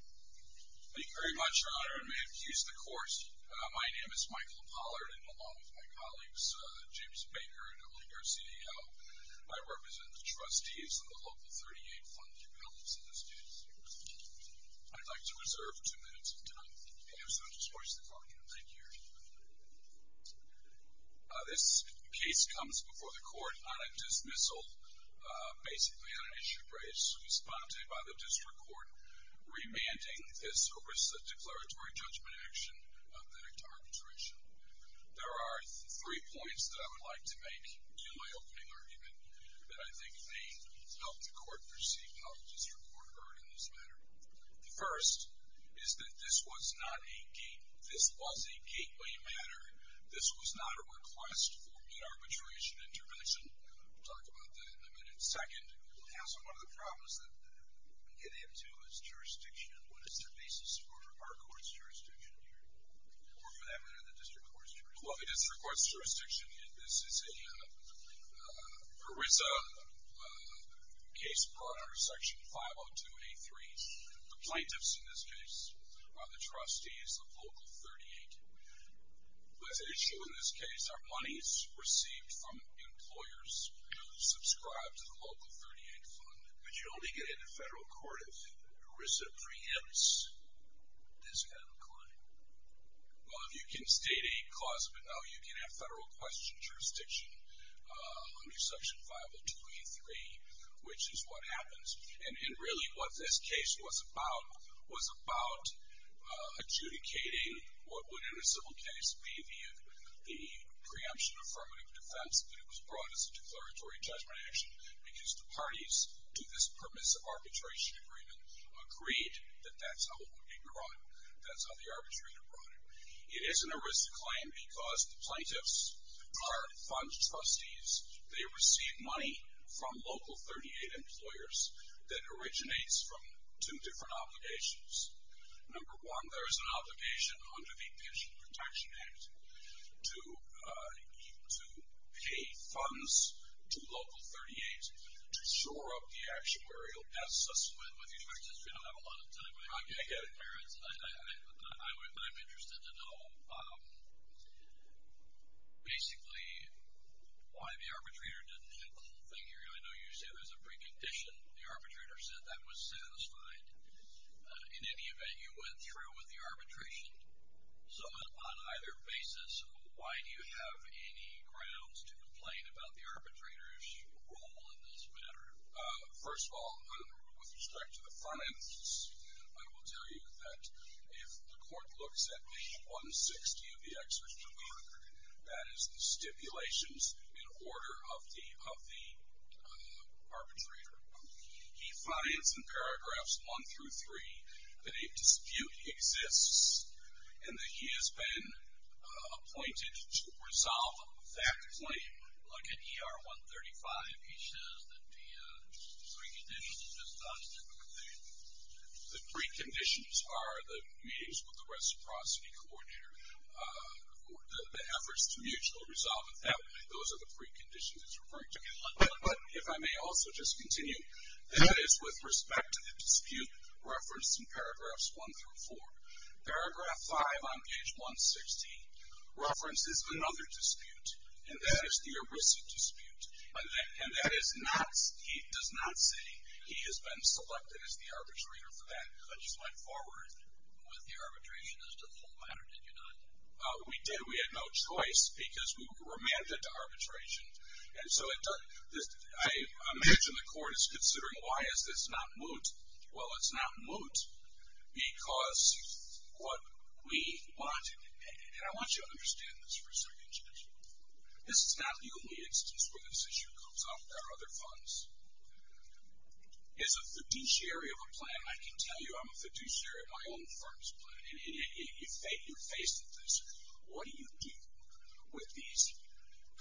Thank you very much, Your Honor, and may it please the Court, my name is Michael Pollard, and along with my colleagues, James Baker and Olinger CDO, I represent the Trustees of the Local 38 Funding Pellets in this case. I'd like to reserve two minutes of time. Okay, so just voice the call again. Thank you, Your Honor. This case comes before the Court on a dismissal, basically on an issue raised, responded by the District Court, remanding this over a declaratory judgment action of the target tuition. There are three points that I would like to make in my opening argument that I think may help the Court perceive how the District Court heard in this matter. The first is that this was not a gateway matter. This was not a request for an arbitration intervention. We'll talk about that in a minute. Second, it has one of the problems that we get into is jurisdiction. What is the basis for our court's jurisdiction here, or for that matter, the District Court's jurisdiction? This is a ERISA case brought under Section 502A3. The plaintiffs in this case are the Trustees of Local 38. There's an issue in this case. Our money is received from employers who subscribe to the Local 38 Fund. But you only get into federal court if ERISA preempts this kind of a claim. Well, if you can state a cause of it, no, you can have federal question jurisdiction under Section 502A3, which is what happens. And really what this case was about was about adjudicating what would, in a civil case, be the preemption affirmative defense. But it was brought as a declaratory judgment action because the parties to this permissive arbitration agreement agreed that that's how it would be brought. That's how the arbitrator brought it. It is an ERISA claim because the plaintiffs are fund trustees. They receive money from Local 38 employers that originates from two different obligations. Number one, there is an obligation under the Pension Protection Act to pay funds to Local 38 to shore up the actuarial assets. I'm interested to know, basically, why the arbitrator didn't hit the whole thing here. I know you said there's a precondition. The arbitrator said that was satisfied. In any event, you went through with the arbitration. So on either basis, why do you have any grounds to complain about the arbitrator's role in this matter? First of all, with respect to the front ends, I will tell you that if the court looks at page 160 of the exertion order, that is the stipulations in order of the arbitrator, he finds in paragraphs 1 through 3 that a dispute exists and that he has been appointed to resolve that claim. Look at ER 135. He says that the preconditions are just on a different page. The preconditions are the meetings with the reciprocity coordinator, the efforts to mutual resolve, and those are the preconditions he's referring to. But if I may also just continue, that is with respect to the dispute referenced in paragraphs 1 through 4. Paragraph 5 on page 160 references another dispute, and that is the erisic dispute, and that is not he does not say he has been selected as the arbitrator for that. I just went forward with the arbitration as the whole matter. Did you not? We did. We had no choice because we were mandated to arbitration. Well, it's not moot because what we wanted, and I want you to understand this for a second, Judge. This is not the only instance where this issue comes up. There are other funds. As a fiduciary of a plan, I can tell you I'm a fiduciary of my own firm's plan, and you're faced with this. What do you do with these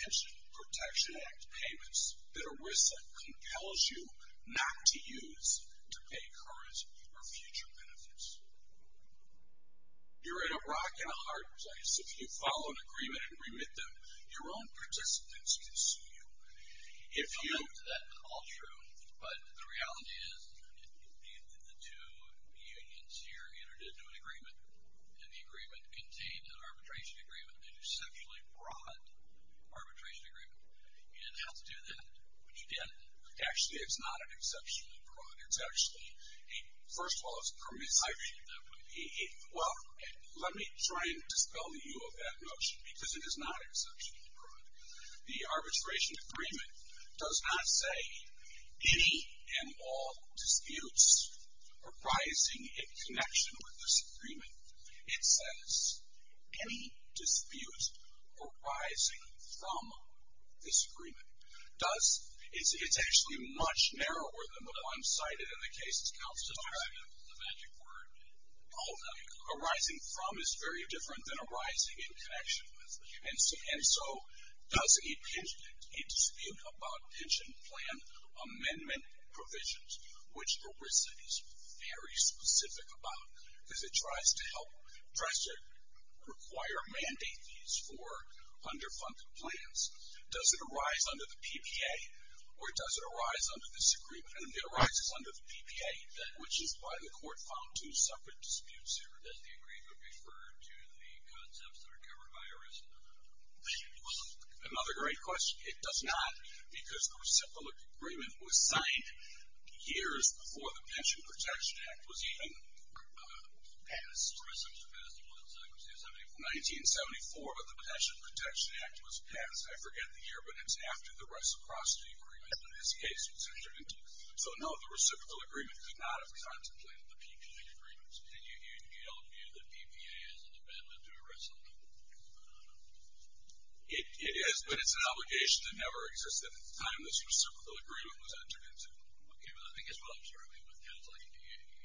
Pension Protection Act payments that ERISA compels you not to use to pay current or future benefits? You're in a rock and a hard place if you follow an agreement and remit them. Your own participants can sue you. I'll note that that's all true, but the reality is the two unions here entered into an agreement, and the agreement contained an arbitration agreement that is an exceptionally broad arbitration agreement. You didn't have to do that, but you did. Actually, it's not an exceptionally broad. It's actually a, first of all, it's permissive. I agree with that. Well, let me try and dispel the view of that notion because it is not an exceptionally broad. The arbitration agreement does not say, any and all disputes arising in connection with this agreement. It says, any disputes arising from this agreement. It's actually much narrower than what I'm cited in the case accounts to describe. The magic word. Oh, arising from is very different than arising in connection with. And so, does a dispute about pension plan amendment provisions, which ERISA is very specific about, because it tries to help, tries to require, mandate these for underfunded plans, does it arise under the PPA, or does it arise under this agreement? I mean, it arises under the PPA, which is why the court found two separate disputes here. Does the agreement refer to the concepts that are covered by ERISA? Another great question. It does not because the reciprocal agreement was signed years before the Pension Protection Act was even passed. Reciprocal Act was signed in 1974. 1974, but the Pension Protection Act was passed, I forget the year, but it's after the reciprocity agreement in this case. So, no, the reciprocal agreement could not have contemplated the PPA agreements. And you don't view the PPA as an amendment to ERISA? It is, but it's an obligation to never exist at the time the reciprocal agreement was entered into. Okay, but I think as well as Charlie, with counseling,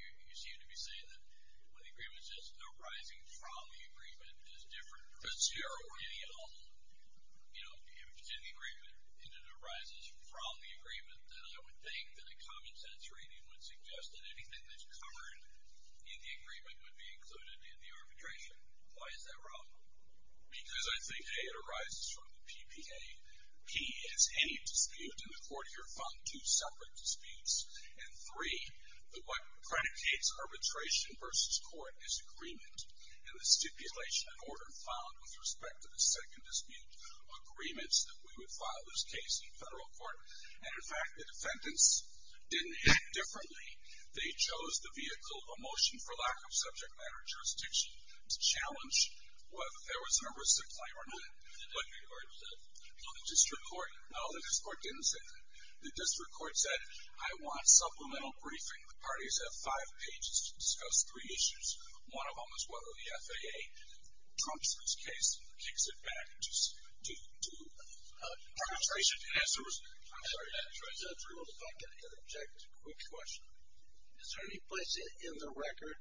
you seem to be saying that when the agreement says arising from the agreement is different from zero, any, you know, if it's in the agreement and it arises from the agreement, then I would think that a common sense rating would suggest that anything that's covered in the agreement would be included in the arbitration. Why is that wrong? Because I think, A, it arises from the PPA. P is any dispute, and the court here found two separate disputes. And three, what predicates arbitration versus court is agreement. And the stipulation and order found with respect to the second dispute agreements that we would file this case in federal court. And, in fact, the defendants didn't hit differently. They chose the vehicle of a motion for lack of subject matter jurisdiction to challenge whether there was a number of supply or not. The district court? No, the district court didn't say that. The district court said, I want supplemental briefing. The parties have five pages to discuss three issues. One of them is whether the FAA trumps this case and kicks it back to arbitration. The answer was, I'm sorry, I tried to answer it. If I could interject a quick question. Is there any place in the record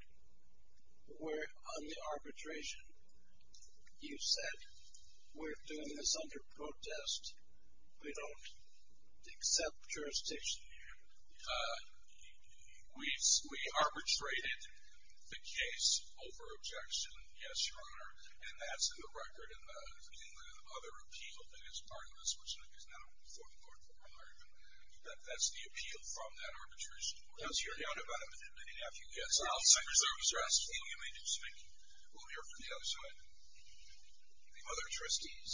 where, on the arbitration, you said, we're doing this under protest, we don't accept jurisdiction? We arbitrated the case over objection, yes, Your Honor. And that's in the record in the other appeal that is part of this, which is not a 44-4 argument. That's the appeal from that arbitration court. I was hearing about it, but I didn't have a few guesses. Well, I'm sorry, Your Honor. We'll hear from the other side. The other trustees.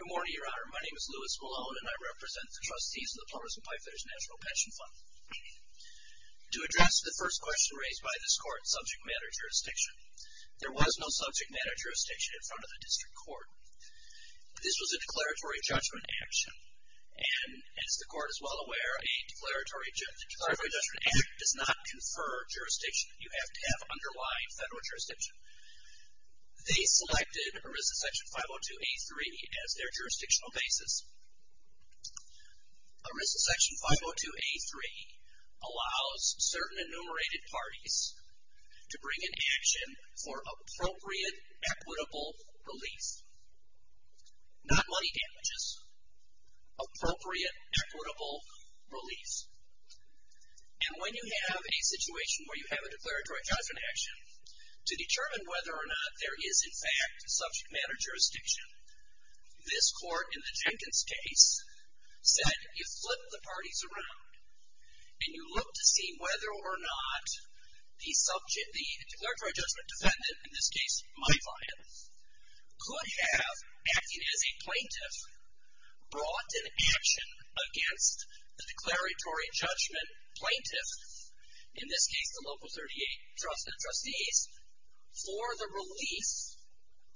Good morning, Your Honor. My name is Louis Malone, and I represent the trustees of the Partners in Welfare's National Pension Fund. To address the first question raised by this court, subject matter jurisdiction, there was no subject matter jurisdiction in front of the district court. This was a declaratory judgment action. And as the court is well aware, a declaratory judgment act does not confer jurisdiction. You have to have underlying federal jurisdiction. They selected Arisa Section 502A3 as their jurisdictional basis. Arisa Section 502A3 allows certain enumerated parties to bring an action for appropriate equitable relief. Not money damages. Appropriate equitable relief. And when you have a situation where you have a declaratory judgment action, to determine whether or not there is, in fact, subject matter jurisdiction, this court in the Jenkins case said you flip the parties around and you look to see whether or not the subject, the declaratory judgment defendant, in this case my client, could have, acting as a plaintiff, brought an action against the declaratory judgment plaintiff, in this case the local 38 trustees, for the relief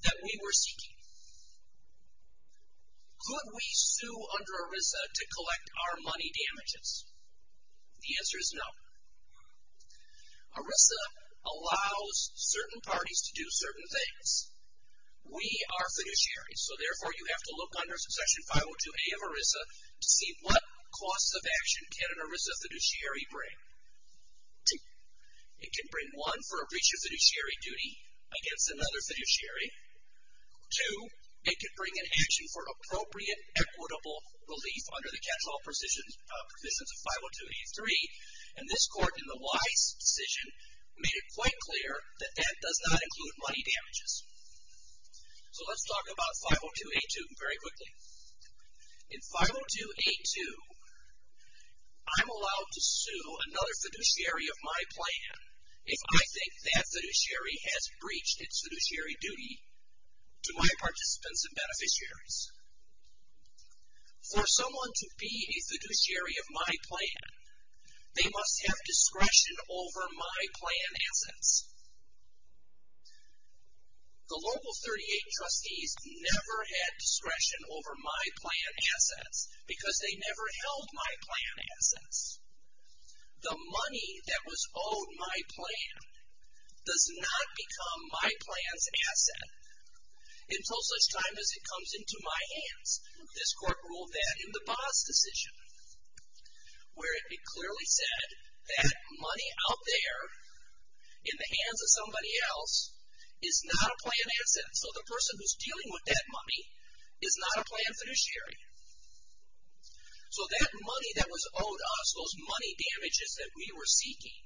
that we were seeking. Could we sue under Arisa to collect our money damages? The answer is no. Arisa allows certain parties to do certain things. We are fiduciary, so therefore you have to look under Section 502A of Arisa to see what costs of action can Arisa fiduciary bring. It can bring, one, for a breach of fiduciary duty against another fiduciary. Two, it can bring an action for appropriate equitable relief under the catch-all provisions of 502A3. And this court, in the Weiss decision, made it quite clear that that does not include money damages. So let's talk about 502A2 very quickly. In 502A2, I'm allowed to sue another fiduciary of my plan if I think that fiduciary has breached its fiduciary duty to my participants and beneficiaries. For someone to be a fiduciary of my plan, they must have discretion over my plan assets. The local 38 trustees never had discretion over my plan assets because they never held my plan assets. The money that was owed my plan does not become my plan's asset until such time as it comes into my hands. This court ruled that in the Baas decision, where it clearly said that money out there, in the hands of somebody else, is not a plan asset. So the person who's dealing with that money is not a plan fiduciary. So that money that was owed us, those money damages that we were seeking,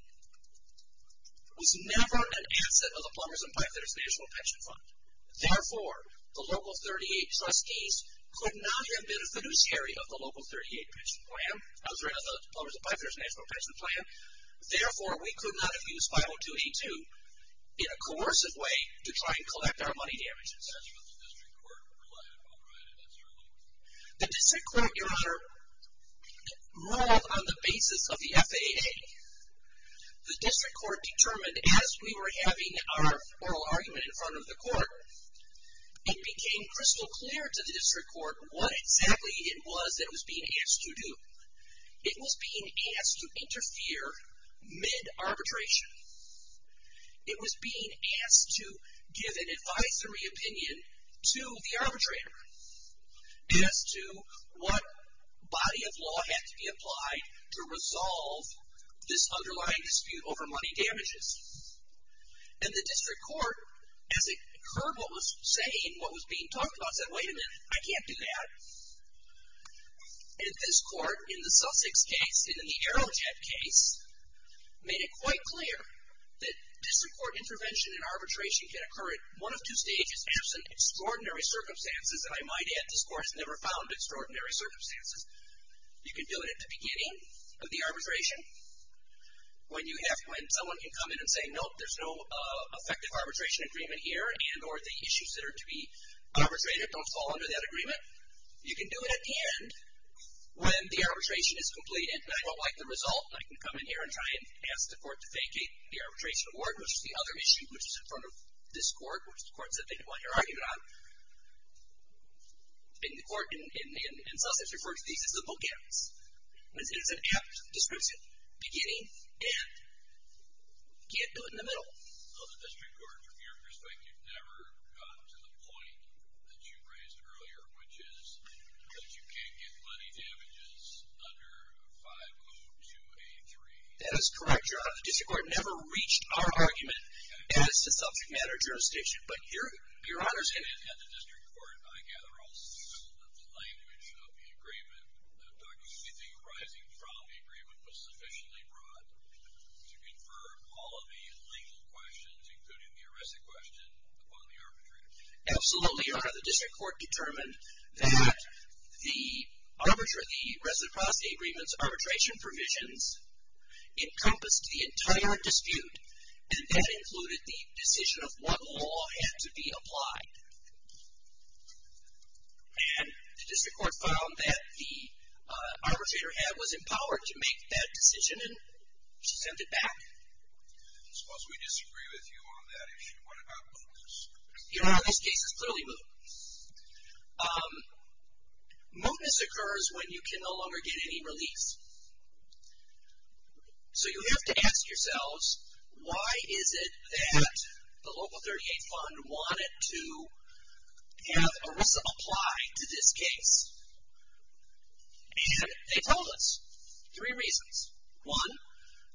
was never an asset of the Plumbers and Pipers National Pension Fund. Therefore, the local 38 trustees could not have been a fiduciary of the local 38 pension plan, of the Plumbers and Pipers National Pension Plan. Therefore, we could not have used 50282 in a coercive way to try and collect our money damages. The district court, Your Honor, ruled on the basis of the FAA. The district court determined, as we were having our oral argument in front of the court, it became crystal clear to the district court what exactly it was that it was being asked to do. It was being asked to interfere mid-arbitration. It was being asked to give an advisory opinion to the arbitrator as to what body of law had to be applied to resolve this underlying dispute over money damages. And the district court, as it heard what was being talked about, said, wait a minute, I can't do that. And this court, in the Sussex case, in the Arrowhead case, made it quite clear that district court intervention in arbitration can occur at one of two stages, absent extraordinary circumstances, and I might add, this court has never found extraordinary circumstances. You can do it at the beginning of the arbitration, when someone can come in and say, no, there's no effective arbitration agreement here, and or the issues that are to be arbitrated don't fall under that agreement. You can do it at the end, when the arbitration is complete, and I don't like the result, and I can come in here and try and ask the court to vacate the arbitration award, which is the other issue, which is in front of this court, which the court said they didn't want your argument on. And the court in Sussex refers to these as the bookends. It's an apt, descriptive beginning, and you can't do it in the middle. Well, the district court, from your perspective, never got to the point that you raised earlier, which is that you can't get money damages under 50283. That is correct, Your Honor. The district court never reached our argument as the subject matter jurisdiction, but Your Honor's can. At the district court, I gather, also, that the language of the agreement, that anything arising from the agreement was sufficiently broad to confer all of the legal questions, including the arresting question, upon the arbitrator. Absolutely, Your Honor. The district court determined that the arbitration, the resident-prostate agreement's arbitration provisions encompassed the entire dispute, and that included the decision of what law had to be applied. And the district court found that the arbitrator was empowered to make that decision and she sent it back. I suppose we disagree with you on that issue. What about mootness? Your Honor, this case is clearly moot. Mootness occurs when you can no longer get any release. So you have to ask yourselves, why is it that the Local 38 Fund wanted to have ERISA apply to this case? And they told us three reasons. One,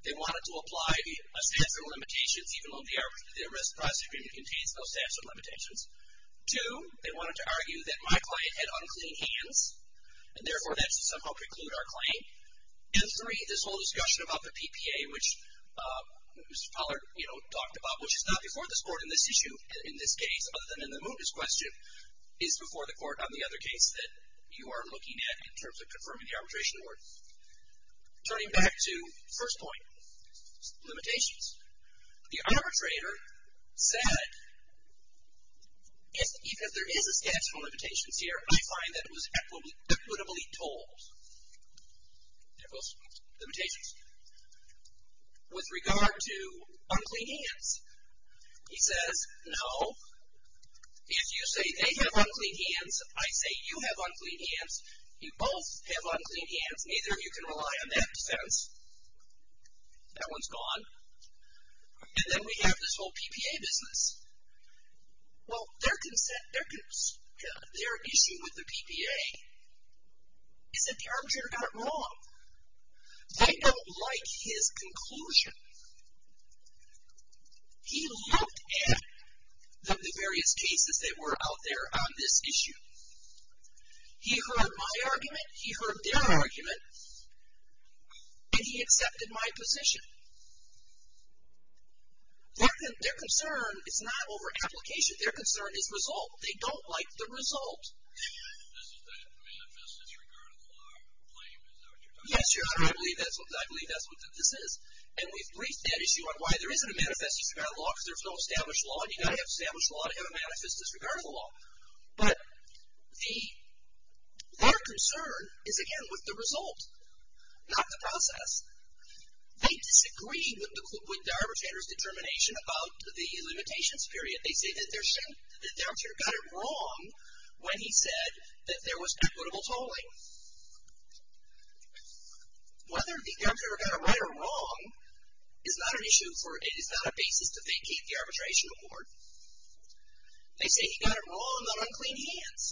they wanted to apply a statute of limitations, even though the arrest-prostate agreement contains no statute of limitations. Two, they wanted to argue that my client had unclean hands, and therefore that should somehow preclude our claim. And three, this whole discussion about the PPA, which Mr. Pollard talked about, which is not before this Court in this issue, in this case, other than in the mootness question, is before the Court on the other case that you are looking at in terms of confirming the arbitration award. Turning back to the first point, limitations. The arbitrator said, even if there is a statute of limitations here, I find that it was equitably told. They're both limitations. With regard to unclean hands, he says, no. If you say they have unclean hands, I say you have unclean hands. You both have unclean hands. Neither of you can rely on that defense. That one's gone. And then we have this whole PPA business. Well, their issue with the PPA is that the arbitrator got it wrong. They don't like his conclusion. He looked at the various cases that were out there on this issue. He heard my argument. He heard their argument. And he accepted my position. Their concern is not over application. Their concern is result. They don't like the result. This is the manifest disregard of the law claim. Is that what you're talking about? Yes, Your Honor. I believe that's what this is. And we've briefed that issue on why there isn't a manifest disregard of the law because there's no established law. And you've got to have established law to have a manifest disregard of the law. But their concern is, again, with the result, not the process. They disagree with the arbitrator's determination about the limitations period. They say that the arbitrator got it wrong when he said that there was equitable tolling. Whether the arbitrator got it right or wrong is not an issue, for it is not a basis to vacate the arbitration award. They say he got it wrong on unclean hands.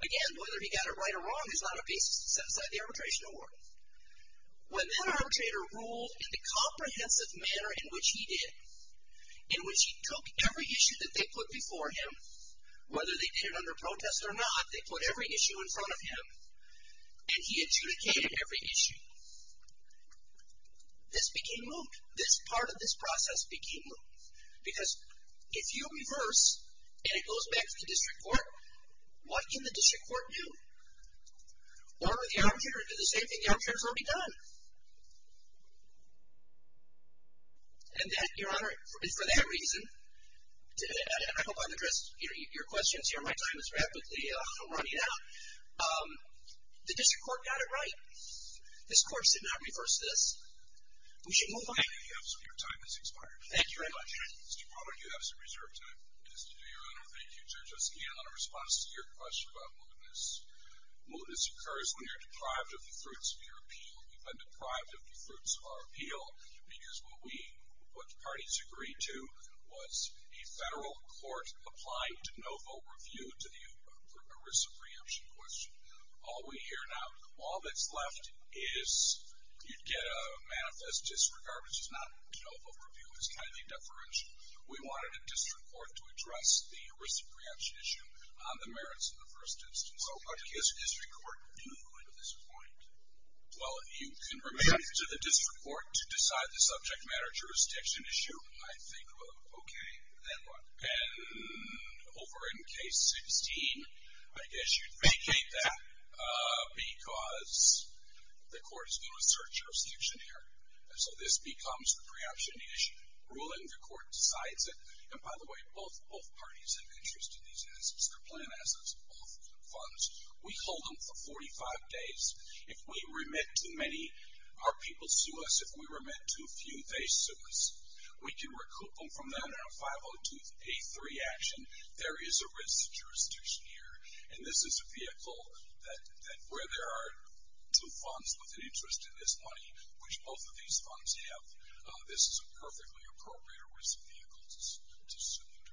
Again, whether he got it right or wrong is not a basis to set aside the arbitration award. When that arbitrator ruled in the comprehensive manner in which he did, in which he took every issue that they put before him, whether they did it under protest or not, they put every issue in front of him, and he adjudicated every issue, this became moot. This part of this process became moot because if you reverse and it goes back to the district court, what can the district court do? What would the arbitrator do? The same thing, the arbitrators won't be done. And for that reason, I hope I've addressed your questions here. My time is rapidly running out. The district court got it right. This court should not reverse this. We should move on. Thank you. Your time has expired. Thank you very much. Mr. Palmer, you have some reserve time. Thank you, Judge Oskin, on a response to your question about mootness. Mootness occurs when you're deprived of the fruits of your appeal. We've been deprived of the fruits of our appeal because what the parties agreed to was a federal court applying to no vote review to the arisa preemption question. All we hear now, all that's left is you'd get a manifest disregard, which is not a no vote review. It's kind of a deferential. We wanted a district court to address the arisa preemption issue on the merits of the first instance. So what does the district court do at this point? Well, you can refer to the district court to decide the subject matter jurisdiction issue. I think, well, okay, then what? And over in case 16, I guess you'd vacate that because the court is doing a search jurisdiction here. And so this becomes the preemption issue. Ruling the court decides it. And, by the way, both parties have interest in these initiatives. Their plan has us off funds. We hold them for 45 days. If we remit too many, our people sue us. If we remit too few, they sue us. We can recoup them from that on a 502A3 action. There is a risk to jurisdiction here. And this is a vehicle that where there are two funds with an interest in this money, which both of these funds have, this is a perfectly appropriate or risk vehicle to submit.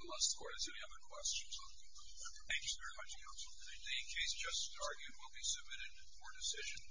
Unless the court has any other questions, I'll conclude there. Thank you very much, counsel. Thank you. The case just argued will be submitted for decision.